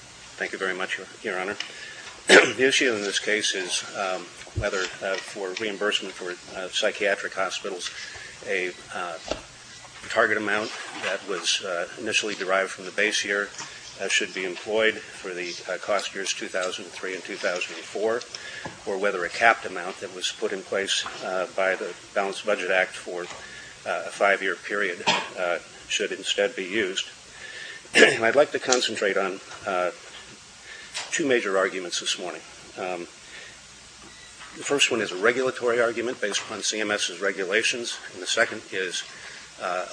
Thank you very much, your honor. The issue in this case is whether for reimbursement for psychiatric hospitals a target amount that was initially derived from the base year should be employed for the cost years 2003 and 2004, or whether a capped amount that was put in place by the balanced budget act for a five-year period should instead be used. I'd like to concentrate on two major arguments this morning. The first one is a regulatory argument based upon CMS's regulations, and the second is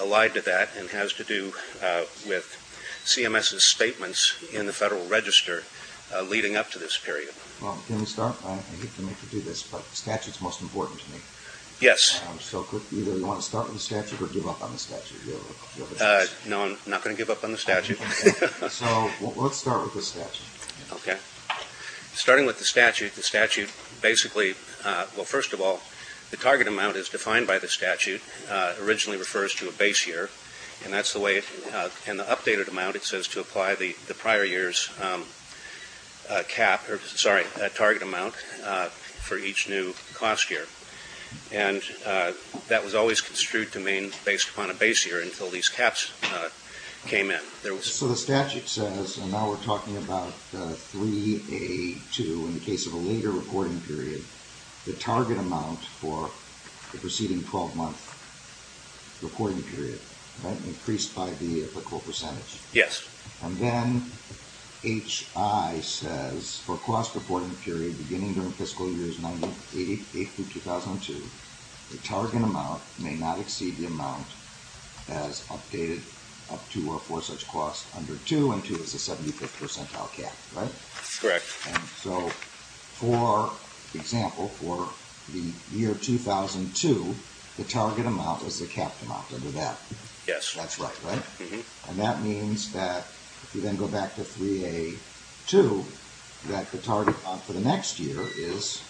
allied to that and has to do with CMS's statements in the Federal Register leading up to this period. Can we start? I hate to make you do this, but the statute is most important to me. Yes. So either you want to start with the statute or give up on the statute. Do you have a choice? No, I'm not going to give up on the statute. Okay. So let's start with the statute. Okay. Starting with the statute, the statute basically, well, first of all, the target amount as defined by the statute originally refers to a base year, and the updated amount it says to apply the prior year's target amount for each new cost year. And that was always construed to mean based upon a base year until these caps came in. So the statute says, and now we're talking about 3A2 in the case of a later reporting period, the target amount for the preceding 12-month reporting period increased by the applicable percentage. Yes. And then H.I. says for a cost reporting period beginning during fiscal years 1988 through 2000, the target cost under 2 and 2 is a 75th percentile cap, right? Correct. And so for example, for the year 2002, the target amount is the cap amount under that. Yes. That's right, right? Mm-hmm. And that means that if you then go back to 3A2, that the target amount for the next year is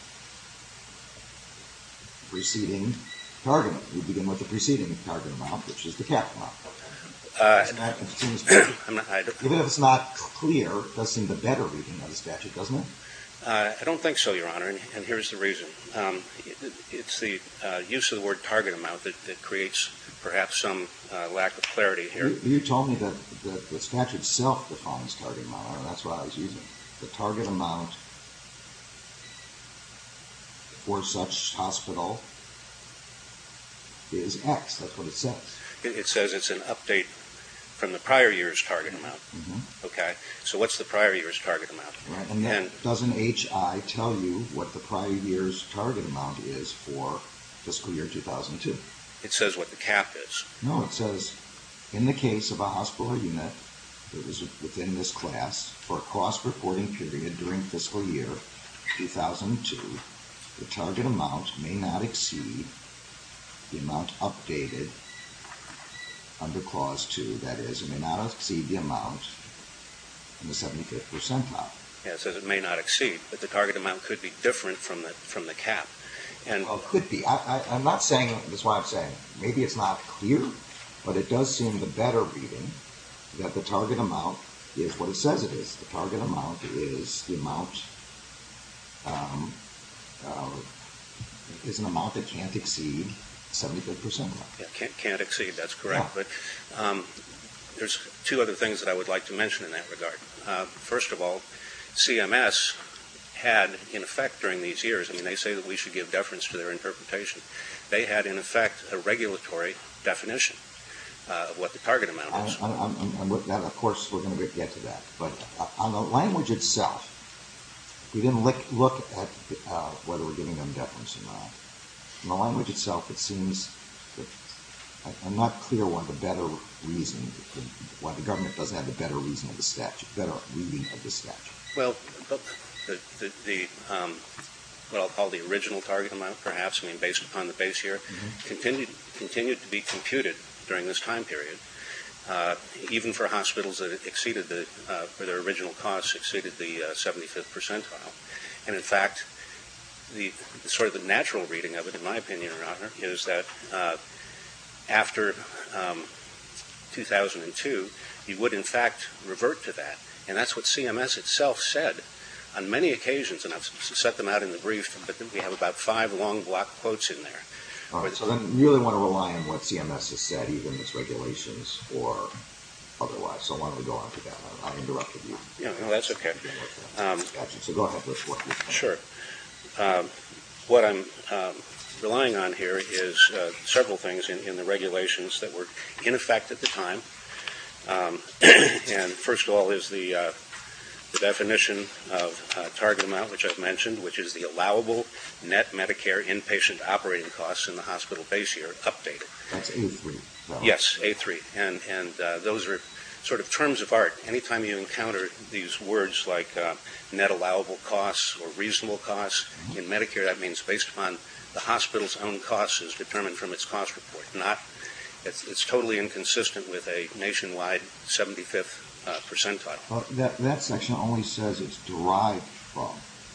preceding target. You begin with the preceding target amount, which is the cap amount. Even if it's not clear, it does seem to better reading of the statute, doesn't it? I don't think so, Your Honor. And here's the reason. It's the use of the word target amount that creates perhaps some lack of clarity here. You told me that the statute self-defines target amount, and that's what I was using. The target amount for such hospital is X. That's what it says. It says it's an update from the prior year's target amount. Mm-hmm. Okay. So what's the prior year's target amount? Right. And then doesn't HI tell you what the prior year's target amount is for fiscal year 2002? It says what the cap is. No. It says, in the case of a hospital unit that is within this class for a cost reporting period during fiscal year 2002, the target amount may not exceed the amount updated under Clause 2. That is, it may not exceed the amount in the 75th percentile. Yeah. It says it may not exceed, but the target amount could be different from the cap. Well, it could be. I'm not saying, that's why I'm saying, maybe it's not clear, but it does seem to the better reading that the target amount is what it says it is. The target amount is the amount, is an amount that can't exceed 75th percentile. Can't exceed. That's correct. But there's two other things that I would like to mention in that regard. First of all, CMS had, in effect during these years, I mean, they say that we should give deference to their interpretation. They had, in effect, a regulatory definition of what the target amount was. Of course, we're going to get to that. But on the language itself, we didn't look at whether we're giving them deference or not. The language itself, it seems, I'm not clear why the government doesn't have the better reading of the statute. Well, what I'll call the original target amount, perhaps, I mean, based upon the base year, continued to be computed during this time period, even for hospitals that exceeded the, for their original costs, exceeded the 75th percentile. And, in fact, sort of the natural reading of it, in my opinion, Your Honor, is that after 2002, you would, in fact, revert to that. And that's what CMS itself said on many occasions, and I've set them out in the brief, but we have about five long block quotes in there. All right. So then you really want to rely on what CMS has said, either in its regulations or otherwise. So why don't we go on to that? I interrupted you. No, that's okay. So go ahead. Sure. What I'm relying on here is several things in the regulations that were in effect at the time. And first of all is the definition of target amount, which I've mentioned, which is the allowable net Medicare inpatient operating costs in the hospital base year updated. That's A3? Yes, A3. And those are sort of terms of art. Anytime you encounter these words like net allowable costs or reasonable costs in Medicare, that means based upon the hospital's own costs as determined from its cost report, not it's totally inconsistent with a nationwide 75th percentile. That section only says it's derived from.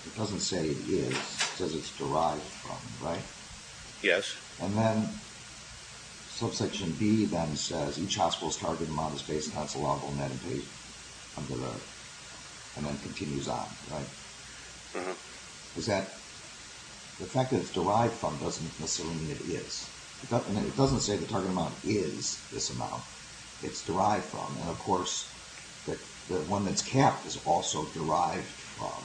It doesn't say it is. It says it's derived from, right? Yes. And then subsection B then says each hospital's target amount is based on its allowable net inpatient under the... and then continues on, right? Uh-huh. Is that... the fact that it's derived from doesn't necessarily mean it is. It doesn't say the target amount is this amount. It's derived from. And, of course, the one that's capped is also derived from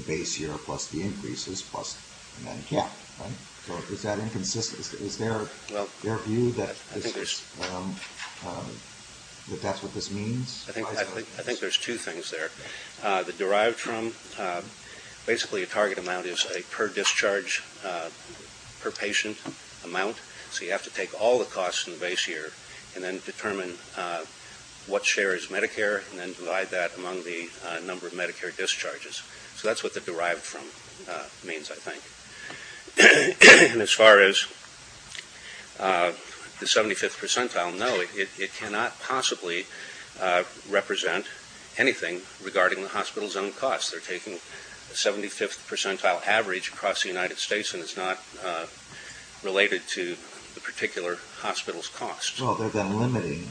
the base year plus the increases plus the net capped, right? So is that inconsistent? Is there a view that that's what this means? I think there's two things there. The derived from, basically a target amount is a per discharge per patient amount. So you have to take all the costs in the base year and then determine what share is Medicare and then divide that among the number of Medicare discharges. So that's what the derived from means, I think. And as far as the 75th percentile, no, it cannot possibly represent anything regarding the hospital's own cost. They're taking a 75th percentile average across the United States and it's not related to the particular hospital's cost. Well, they're then limiting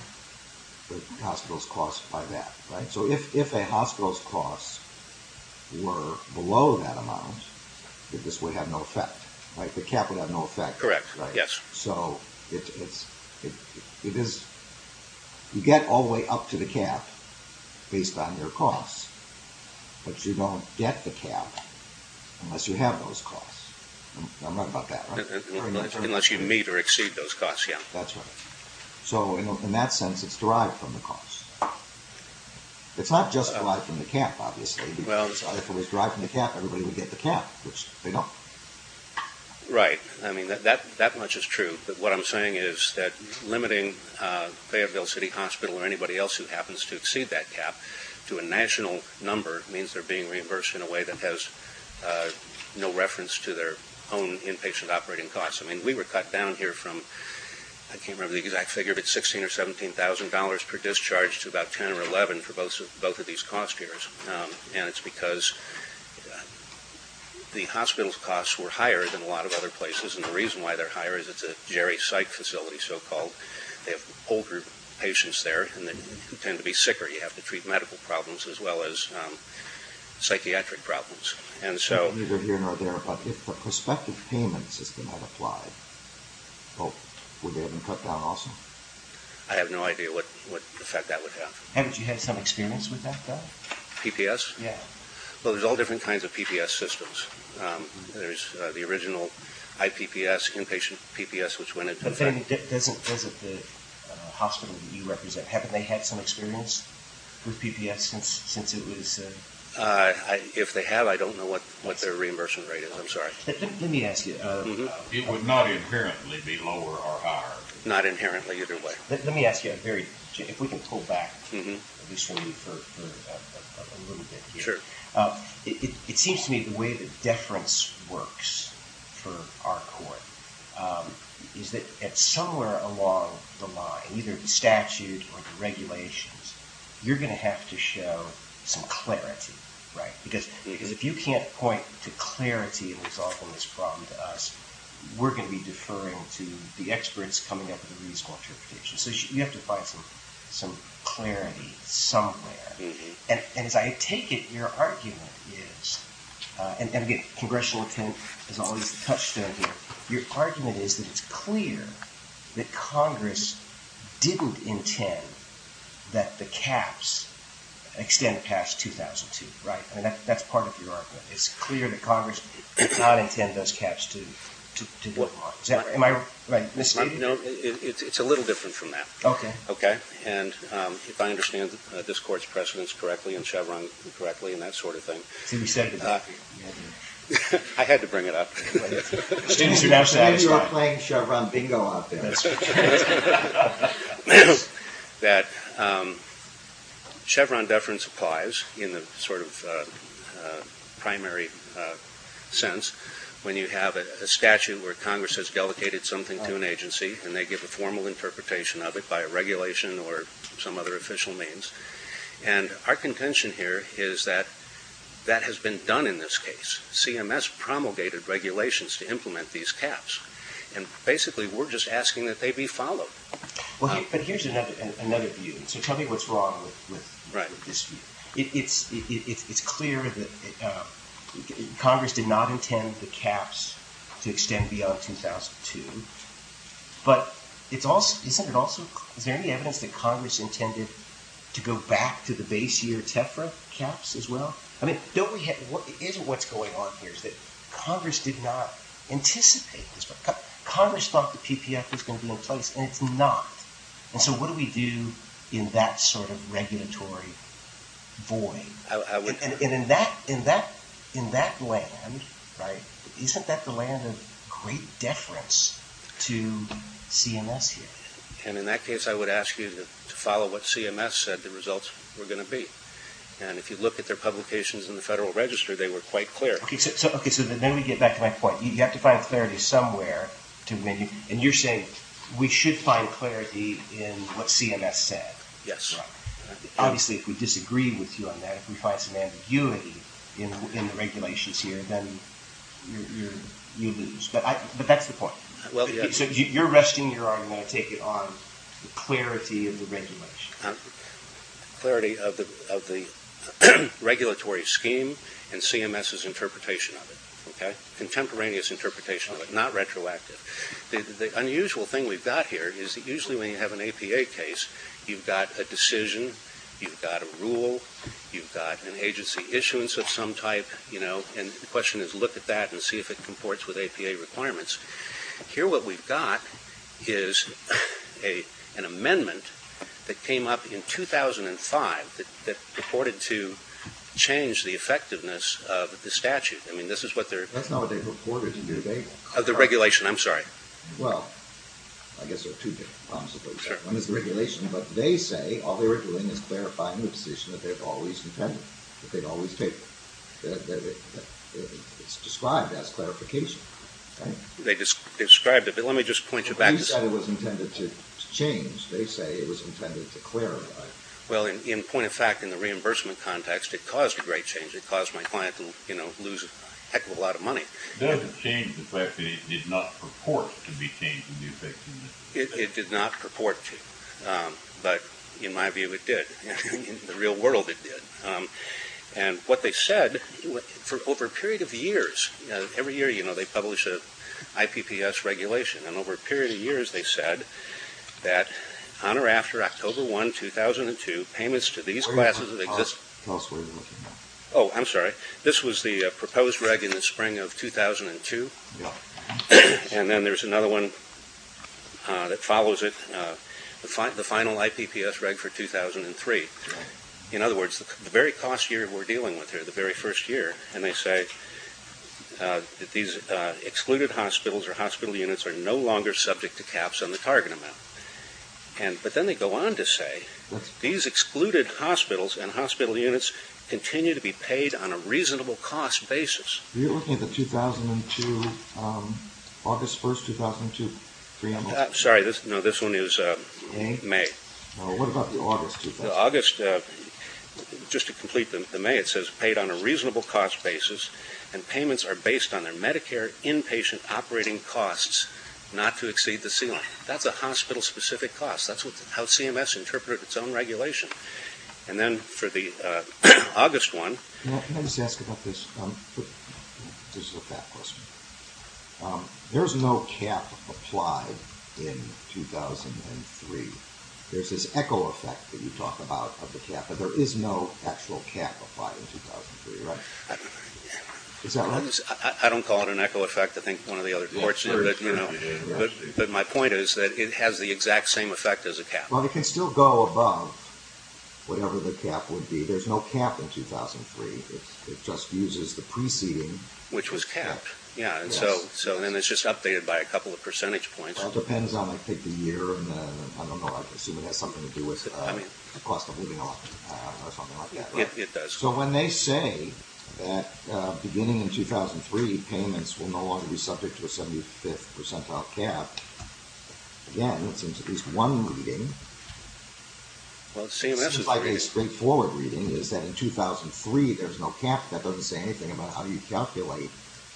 the hospital's cost by that, right? So if a hospital's cost were below that amount, this would have no effect, right? The cap would have no effect, right? Correct. Yes. So you get all the way up to the cap based on your cost, but you don't get the cap unless you have those costs. I'm right about that, right? Unless you meet or exceed those costs, yes. That's right. So in that sense, it's derived from the cost. It's not just derived from the cap, obviously, because if it was derived from the cap, everybody would get the cap, which they don't. Right. I mean, that much is true. But what I'm saying is that limiting Fayetteville City Hospital or anybody else who happens to exceed that cap to a national number means they're being reimbursed in a way that has no reference to their own inpatient operating costs. I mean, we were cut down here from, I can't remember the exact figure, but $16,000 or $17,000 per discharge to about $10,000 or $11,000 for both of these cost years. And it's because the hospital's costs were higher than a lot of other places, and the reason why they're higher is it's a geri psych facility, so-called. They have a whole group of patients there, and they tend to be sicker. You have to treat medical problems as well as psychiatric problems. Neither here nor there, but if the prospective payment system had applied, would they have been cut down also? I have no idea what effect that would have. Haven't you had some experience with that, though? PPS? Yeah. Well, there's all different kinds of PPS systems. There's the original IPPS, inpatient PPS, which went into effect- But then, doesn't the hospital that you represent, haven't they had some experience with PPS since it was- If they have, I don't know what their reimbursement rate is. I'm sorry. Let me ask you- It would not inherently be lower or higher. Not inherently, either way. Let me ask you a very- If we can pull back, at least for me, for a little bit here. Sure. It seems to me the way that deference works for our court is that somewhere along the line, either the statute or the regulations, you're going to have to show some clarity, right? Because if you can't point to clarity in resolving this problem to us, we're going to be deferring to the experts coming up with a reasonable interpretation. So you have to find some clarity somewhere. And as I take it, your argument is, and again, congressional intent is always a touchstone here, your argument is that it's clear that Congress didn't intend that the caps extend past 2002, right? I mean, that's part of your argument. It's clear that Congress did not intend those caps to- What part? Is that right? Am I- No, it's a little different from that. Okay. Okay? And if I understand this Court's precedents correctly and Chevron correctly and that sort of thing- See, we said- I had to bring it up. You said you were playing Chevron bingo out there. That Chevron deference applies in the sort of primary sense when you have a statute where Congress has delegated something to an agency and they give a formal interpretation of it by a regulation or some other official means. And our contention here is that that has been done in this case. CMS promulgated regulations to implement these caps. And basically, we're just asking that they be followed. But here's another view. So tell me what's wrong with this view. It's clear that Congress did not intend the caps to extend beyond 2002. But is there any evidence that Congress intended to go back to the base year TEFRA caps as well? I mean, isn't what's going on here is Congress did not anticipate this. Congress thought the PPF was going to be in place and it's not. And so what do we do in that sort of regulatory void? I would- And in that land, right, isn't that the land of great deference to CMS here? And in that case, I would ask you to follow what CMS said the results were going to be. And if you look at their publications in the Federal Register, they were quite clear. Okay, so then we get back to my point. You have to find clarity somewhere. And you're saying we should find clarity in what CMS said. Yes. Obviously, if we disagree with you on that, if we find some ambiguity in the regulations here, then you lose. But that's the point. Well- So you're resting your argument, I take it, on the clarity of the regulation. Clarity of the regulatory scheme and CMS's interpretation of it. Okay? Contemporaneous interpretation of it, not retroactive. The unusual thing we've got here is that usually when you have an APA case, you've got a decision, you've got a rule, you've got an agency issuance of some type, you know, and the question is look at that and see if it comports with APA requirements. Here what we've got is an amendment that came up in 2005 that purported to change the effectiveness of the statute. I mean, this is what they're- That's not what they purported to do, they- Of the regulation, I'm sorry. Well, I guess there are two different problems, I suppose. One is the regulation, but they say all they were doing is clarifying the decision that they've always intended, that they've always taken. It's described as clarification, right? They described it, but let me just point you back- You said it was intended to change. They say it was intended to clarify. Well, in point of fact, in the reimbursement context, it caused a great change. It caused my client to, you know, lose a heck of a lot of money. Does it change the fact that it did not purport to be changing the effectiveness? It did not purport to, but in my view, it did. In the real world, it did. And what they said, for over a period of years, every year, you know, they publish a IPPS regulation, and over a period of years, they said that on or after October 1, 2002, payments to these classes- Tell us what you're looking at. Oh, I'm sorry. This was the proposed reg in the spring of 2002, and then there's another one that follows it, the final IPPS reg for 2003. In other words, the very cost year we're dealing with here, the very first year, and they say that these excluded hospitals or hospital units are no longer subject to caps on the target amount. But then they go on to say, these excluded hospitals and hospital units continue to be paid on a reasonable cost basis. You're looking at the 2002, August 1, 2002? Sorry, no, this one is May. What about the August? The August, just to complete the May, it says paid on a reasonable cost basis, and payments are based on their Medicare inpatient operating costs, not to exceed the ceiling. That's a hospital-specific cost. That's how CMS interpreted its own regulation. And then for the August one- Can I just ask about this? This is a back question. There's no cap applied in 2003. There's this echo effect that you talk about of the cap, but there is no actual cap applied in 2003, right? I don't call it an echo effect. I think one of the other courts did. But my point is that it has the exact same effect as a cap. Well, it can still go above whatever the cap would be. There's no cap in 2003. It just uses the preceding- Yeah, so then it's just updated by a couple of percentage points. Well, it depends on, I think, the year, and I don't know, I assume it has something to do with the cost of living or something like that, right? It does. So when they say that beginning in 2003, payments will no longer be subject to a 75th percentile cap, again, it seems at least one reading- Well, CMS is- It seems like a straightforward reading, is that in 2003, there's no cap. That doesn't say anything about how you calculate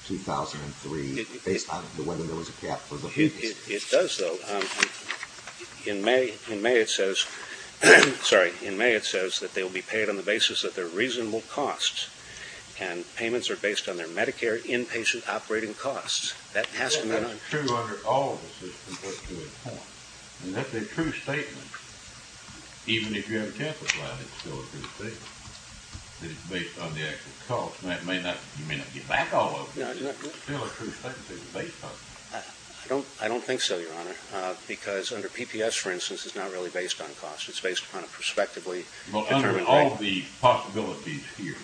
2003 based on whether there was a cap for the- It does, though. In May, it says- Sorry. In May, it says that they will be paid on the basis of their reasonable costs, and payments are based on their Medicare inpatient operating costs. That has to- Well, that's true under all of the systems, but to a point. And that's a true statement. Even if you have a campus line, it's still a true statement. It's based on the actual cost, and you may not get back all of it, but it's still a true statement. It's based on- I don't think so, Your Honor, because under PPS, for instance, it's not really based on cost. It's based upon a prospectively- Well, under all the possibilities here,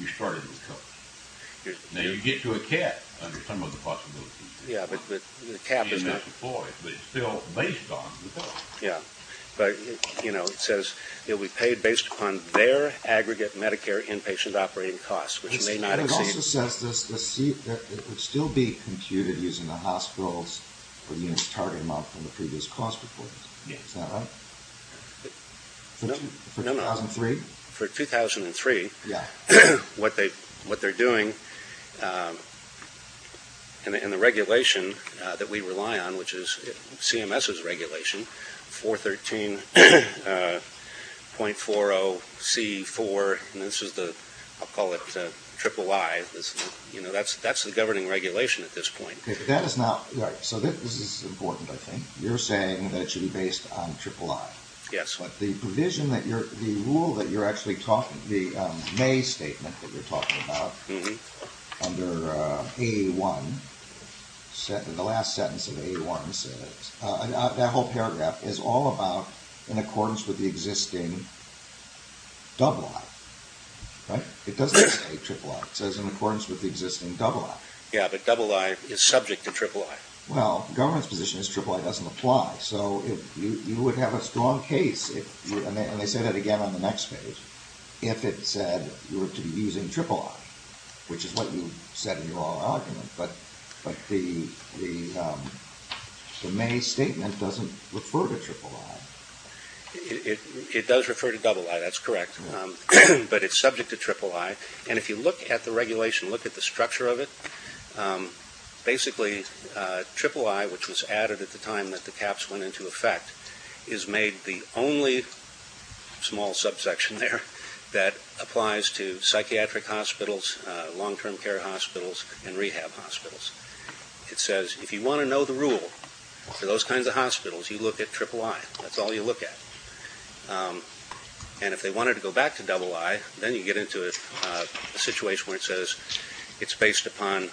you started with costs. Now, you get to a cap under some of the possibilities. Yeah, but the cap is not- But it's still based on the cost. Yeah. But, you know, it says, they'll be paid based upon their aggregate Medicare inpatient operating costs, which may not- It also says that it would still be computed using the hospitals for the unit's target amount from the previous cost report. Is that right? For 2003? For 2003, what they're doing in the regulation that we rely on, which is CMS's regulation, 413 .40 C4 and this is the- I'll call it triple I. That's the governing regulation at this point. That is not- So this is important, I think. You're saying that it should be based on triple I. Yes. But the provision that you're- the rule that you're actually talking- the May statement that you're talking about under A1, the last sentence of A1 says- That whole paragraph is all about in accordance with the existing double I. Right? It doesn't say triple I. It says in accordance with the existing double I. Yeah, but double I is subject to triple I. Well, the government's position is triple I doesn't apply, so you would have a strong case and they say that again on the next page, if it said you were to be using triple I, which is what you said in your argument, but the May statement doesn't refer to triple I. It does refer to double I, that's correct, but it's subject to triple I, and if you look at the regulation, look at the structure of it, basically triple I, which was added at the time that the caps went into effect, is made the only small subsection there that applies to psychiatric hospitals, long-term care hospitals, and rehab hospitals. It says if you want to know the rule for those kinds of hospitals, you look at triple I. That's all you look at. And if they wanted to go back to double I, then you get into a situation where it says it's based upon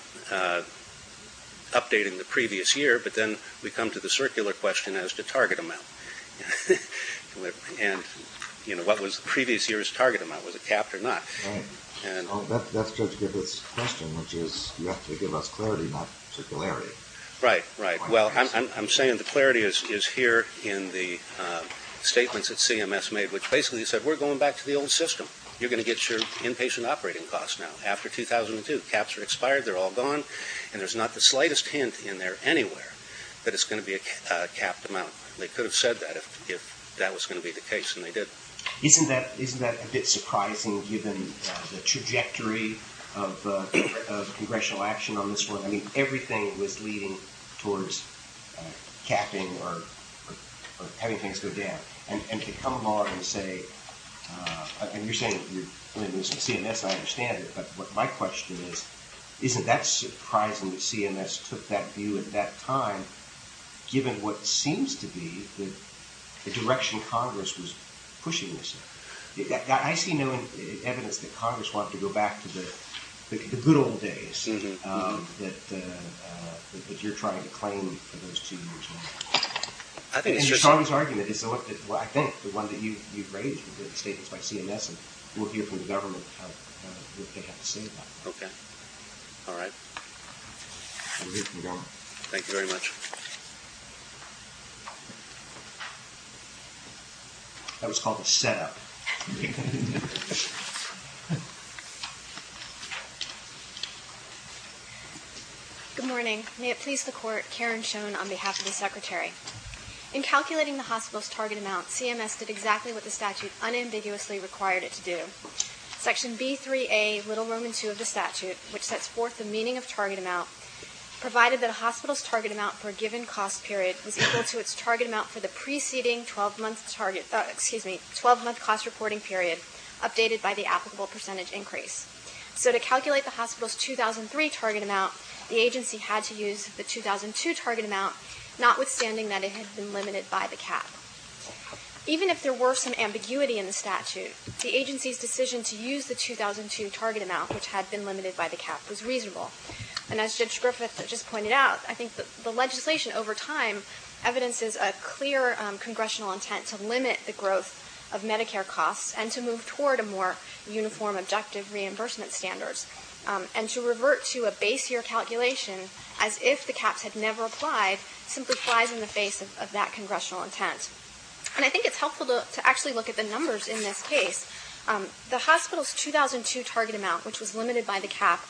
updating the previous year, but then we come to the circular question as to target amount. And what was the previous year's target amount? Was it capped or not? That's good to give this question, which is you have to give us clarity, not circularity. Right. Well, I'm saying the clarity is here in the statements that CMS made, which basically said we're going back to the old system. You're going to get your inpatient operating cost now, after 2002. Caps are expired, they're all gone, and there's not the slightest hint in there anywhere that it's going to be a capped amount. They could have said that if that was going to be the case, and they did. Isn't that a bit surprising given the trajectory of congressional action on this one? I mean, everything was leading towards capping or having things go down. And to come along and say, and you're saying CMS, I understand it, but my question is isn't that surprising that CMS took that view at that time given what seems to be the direction Congress was pushing this in? I see no evidence that Congress wanted to go back to the good old days that you're trying to claim for those two years now. I think it's a strong argument. I think the one that you raised in the statements by CMS will hear from the government what they have to say about that. All right. Thank you very much. Thank you. That was called a set-up. Good morning. May it please the Court, Karen Schoen on behalf of the Secretary. In calculating the hospital's target amount, CMS did exactly what the statute unambiguously required it to do. Section B3a Little Roman II of the statute, which sets forth the meaning of target amount, provided that a hospital's target amount for a given cost period was equal to its target amount for the preceding 12-month cost reporting period, updated by the applicable percentage increase. To calculate the hospital's 2003 target amount, the agency had to use the 2002 target amount, notwithstanding that it had been limited by the cap. Even if there were some ambiguity in the statute, the agency's decision to use the 2002 target amount, which had been limited by the cap, was reasonable. And as Judge Griffith just pointed out, I think the legislation over time evidences a clear congressional intent to limit the growth of Medicare costs and to move toward a more uniform objective reimbursement standard and to revert to a base-year calculation as if the caps had never applied simply flies in the face of that congressional intent. And I think it's helpful to actually look at the numbers in this case. The hospital's 2002 target amount, which was limited by the cap,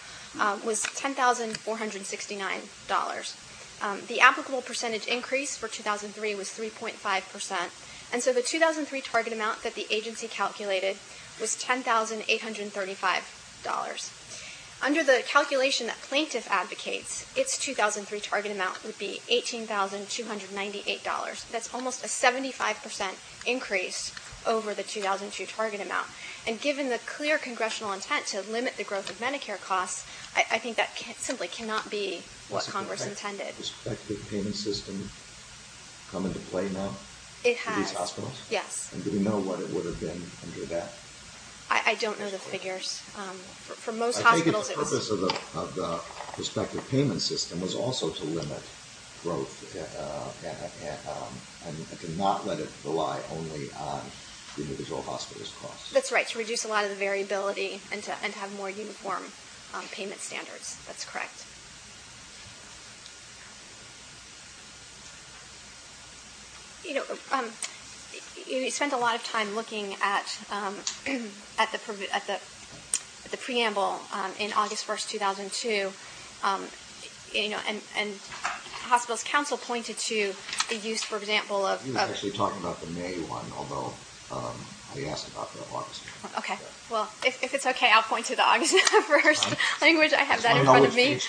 was $10,469. The applicable percentage increase for 2003 was 3.5%, and so the 2003 target amount that the agency calculated was $10,835. Under the calculation that plaintiff advocates, its 2003 target amount would be $18,298. That's almost a 75% increase over the 2002 target amount. And given the clear congressional intent to limit the growth of Medicare costs, I think that simply cannot be what Congress intended. Has the prospective payment system come into play now? Yes. Do we know what it would have been under that? I don't know the figures. I think the purpose of the prospective payment system was also to limit growth and to not let it rely only on individual hospitals' costs. That's right, to reduce a lot of the variability and to have more uniform payment standards. That's correct. You know, you spent a lot of time looking at the preamble in August 1, 2002 and hospital's counsel pointed to the use, for example, of I was actually talking about the May 1, although I asked about the August 1. Okay. Well, if it's okay, I'll point to the August 1 language. I have that in front of me.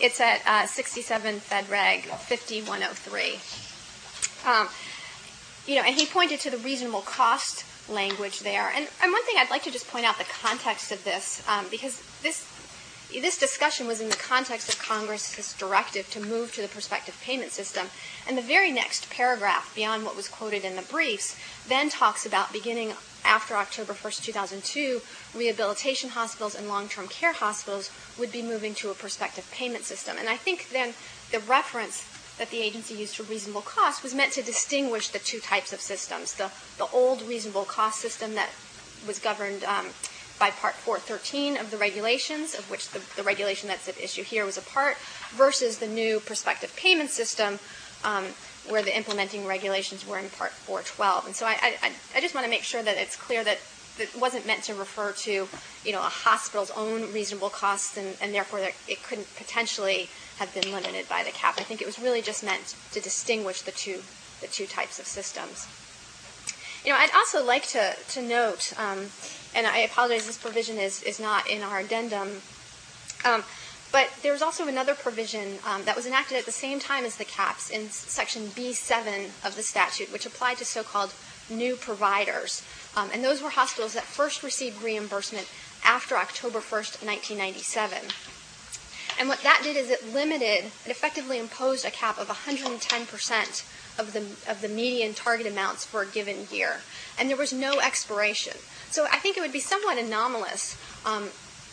It's at 67 Fed Reg 5103. And he pointed to the reasonable cost language there. And one thing I'd like to just point out, the context of this, because this discussion was in the context of Congress' directive to move to the prospective payment system. And the very next paragraph beyond what was quoted in the briefs then talks about beginning after October 1, 2002, rehabilitation hospitals and long-term care hospitals would be moving to a prospective payment system. And I think then the reference that the agency used for reasonable cost was meant to distinguish the two types of systems. The old reasonable cost system that was governed by Part 4.13 of the regulations, of which the regulation that's at issue here was a part, versus the new prospective payment system where the implementing regulations were in Part 4.12. And so I just want to make sure that it's clear that it wasn't meant to refer to a hospital's own reasonable cost, and therefore it couldn't potentially have been limited by the cap. I think it was really just meant to distinguish the two types of systems. I'd also like to note, and I apologize, this provision is not in our addendum, but there's also another provision that was enacted at the same time as the caps in Section B.7 of the statute, which applied to so-called new providers. And those were hospitals that first received reimbursement after October 1, 1997. And what that did is it limited, it effectively imposed a cap of 110% of the median target amounts for a given year. And there was no expiration. So I think it would be somewhat anomalous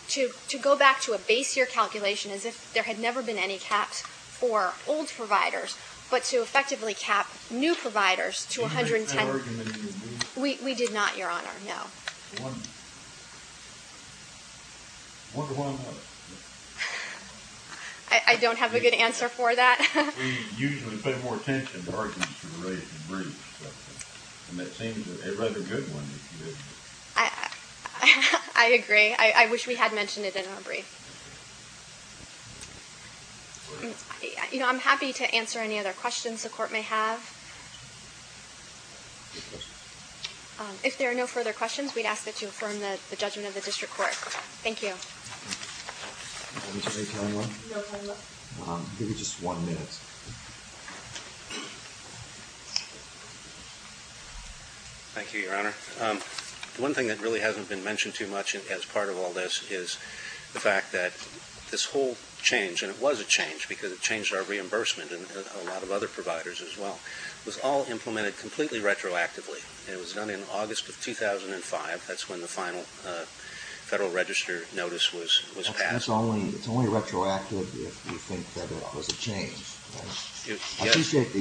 to go back to a base-year calculation as if there had never been any caps for old providers, but to effectively cap new providers to 110. Did you make that argument in your brief? We did not, Your Honor, no. I wonder why not. I don't have a good answer for that. We usually pay more attention to arguments related to briefs. And it seems a rather good one. I agree. I wish we had mentioned it in our brief. I'm happy to answer any other questions the Court may have. If there are no further questions, we'd ask that you affirm the judgment of the District Court. Thank you. Thank you. Thank you, Your Honor. One thing that really hasn't been mentioned too much as part of all this is the fact that this whole change, and it was a change because it changed our reimbursement and a lot of other providers as well, was all implemented completely retroactively. It was done in August of 2005. That's when the final Federal Register notice was passed. It's only retroactive if you think that it was a change. I appreciate that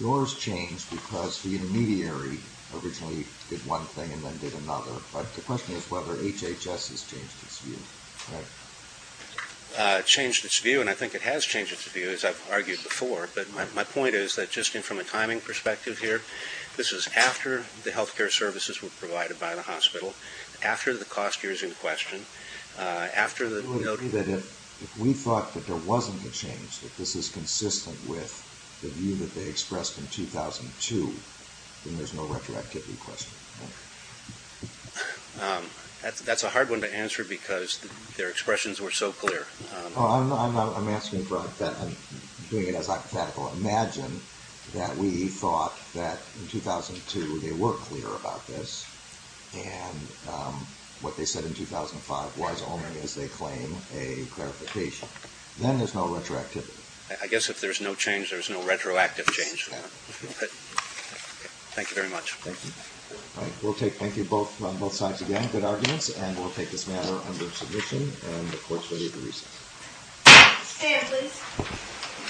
yours changed because the intermediary originally did one thing and then did another. But the question is whether HHS has changed its view. It changed its view, and I think it has changed its view, as I've argued before. My point is that, just from a timing perspective here, this is after the health care services were provided by the hospital, after the cost is in question, after the notice. If we thought that there wasn't a change, that this is consistent with the view that they expressed in 2002, then there's no retroactivity question. That's a hard one to answer because their expressions were so clear. I'm asking for a hypothetical. Imagine that we thought that in 2002 they were clear about this, and what they said in 2005 was only as they claim a clarification. Then there's no retroactivity. I guess if there's no change, there's no retroactive change. Thank you very much. Thank you. Thank you on both sides again. Good arguments. We'll take this matter under submission and the Court's ready to receive it.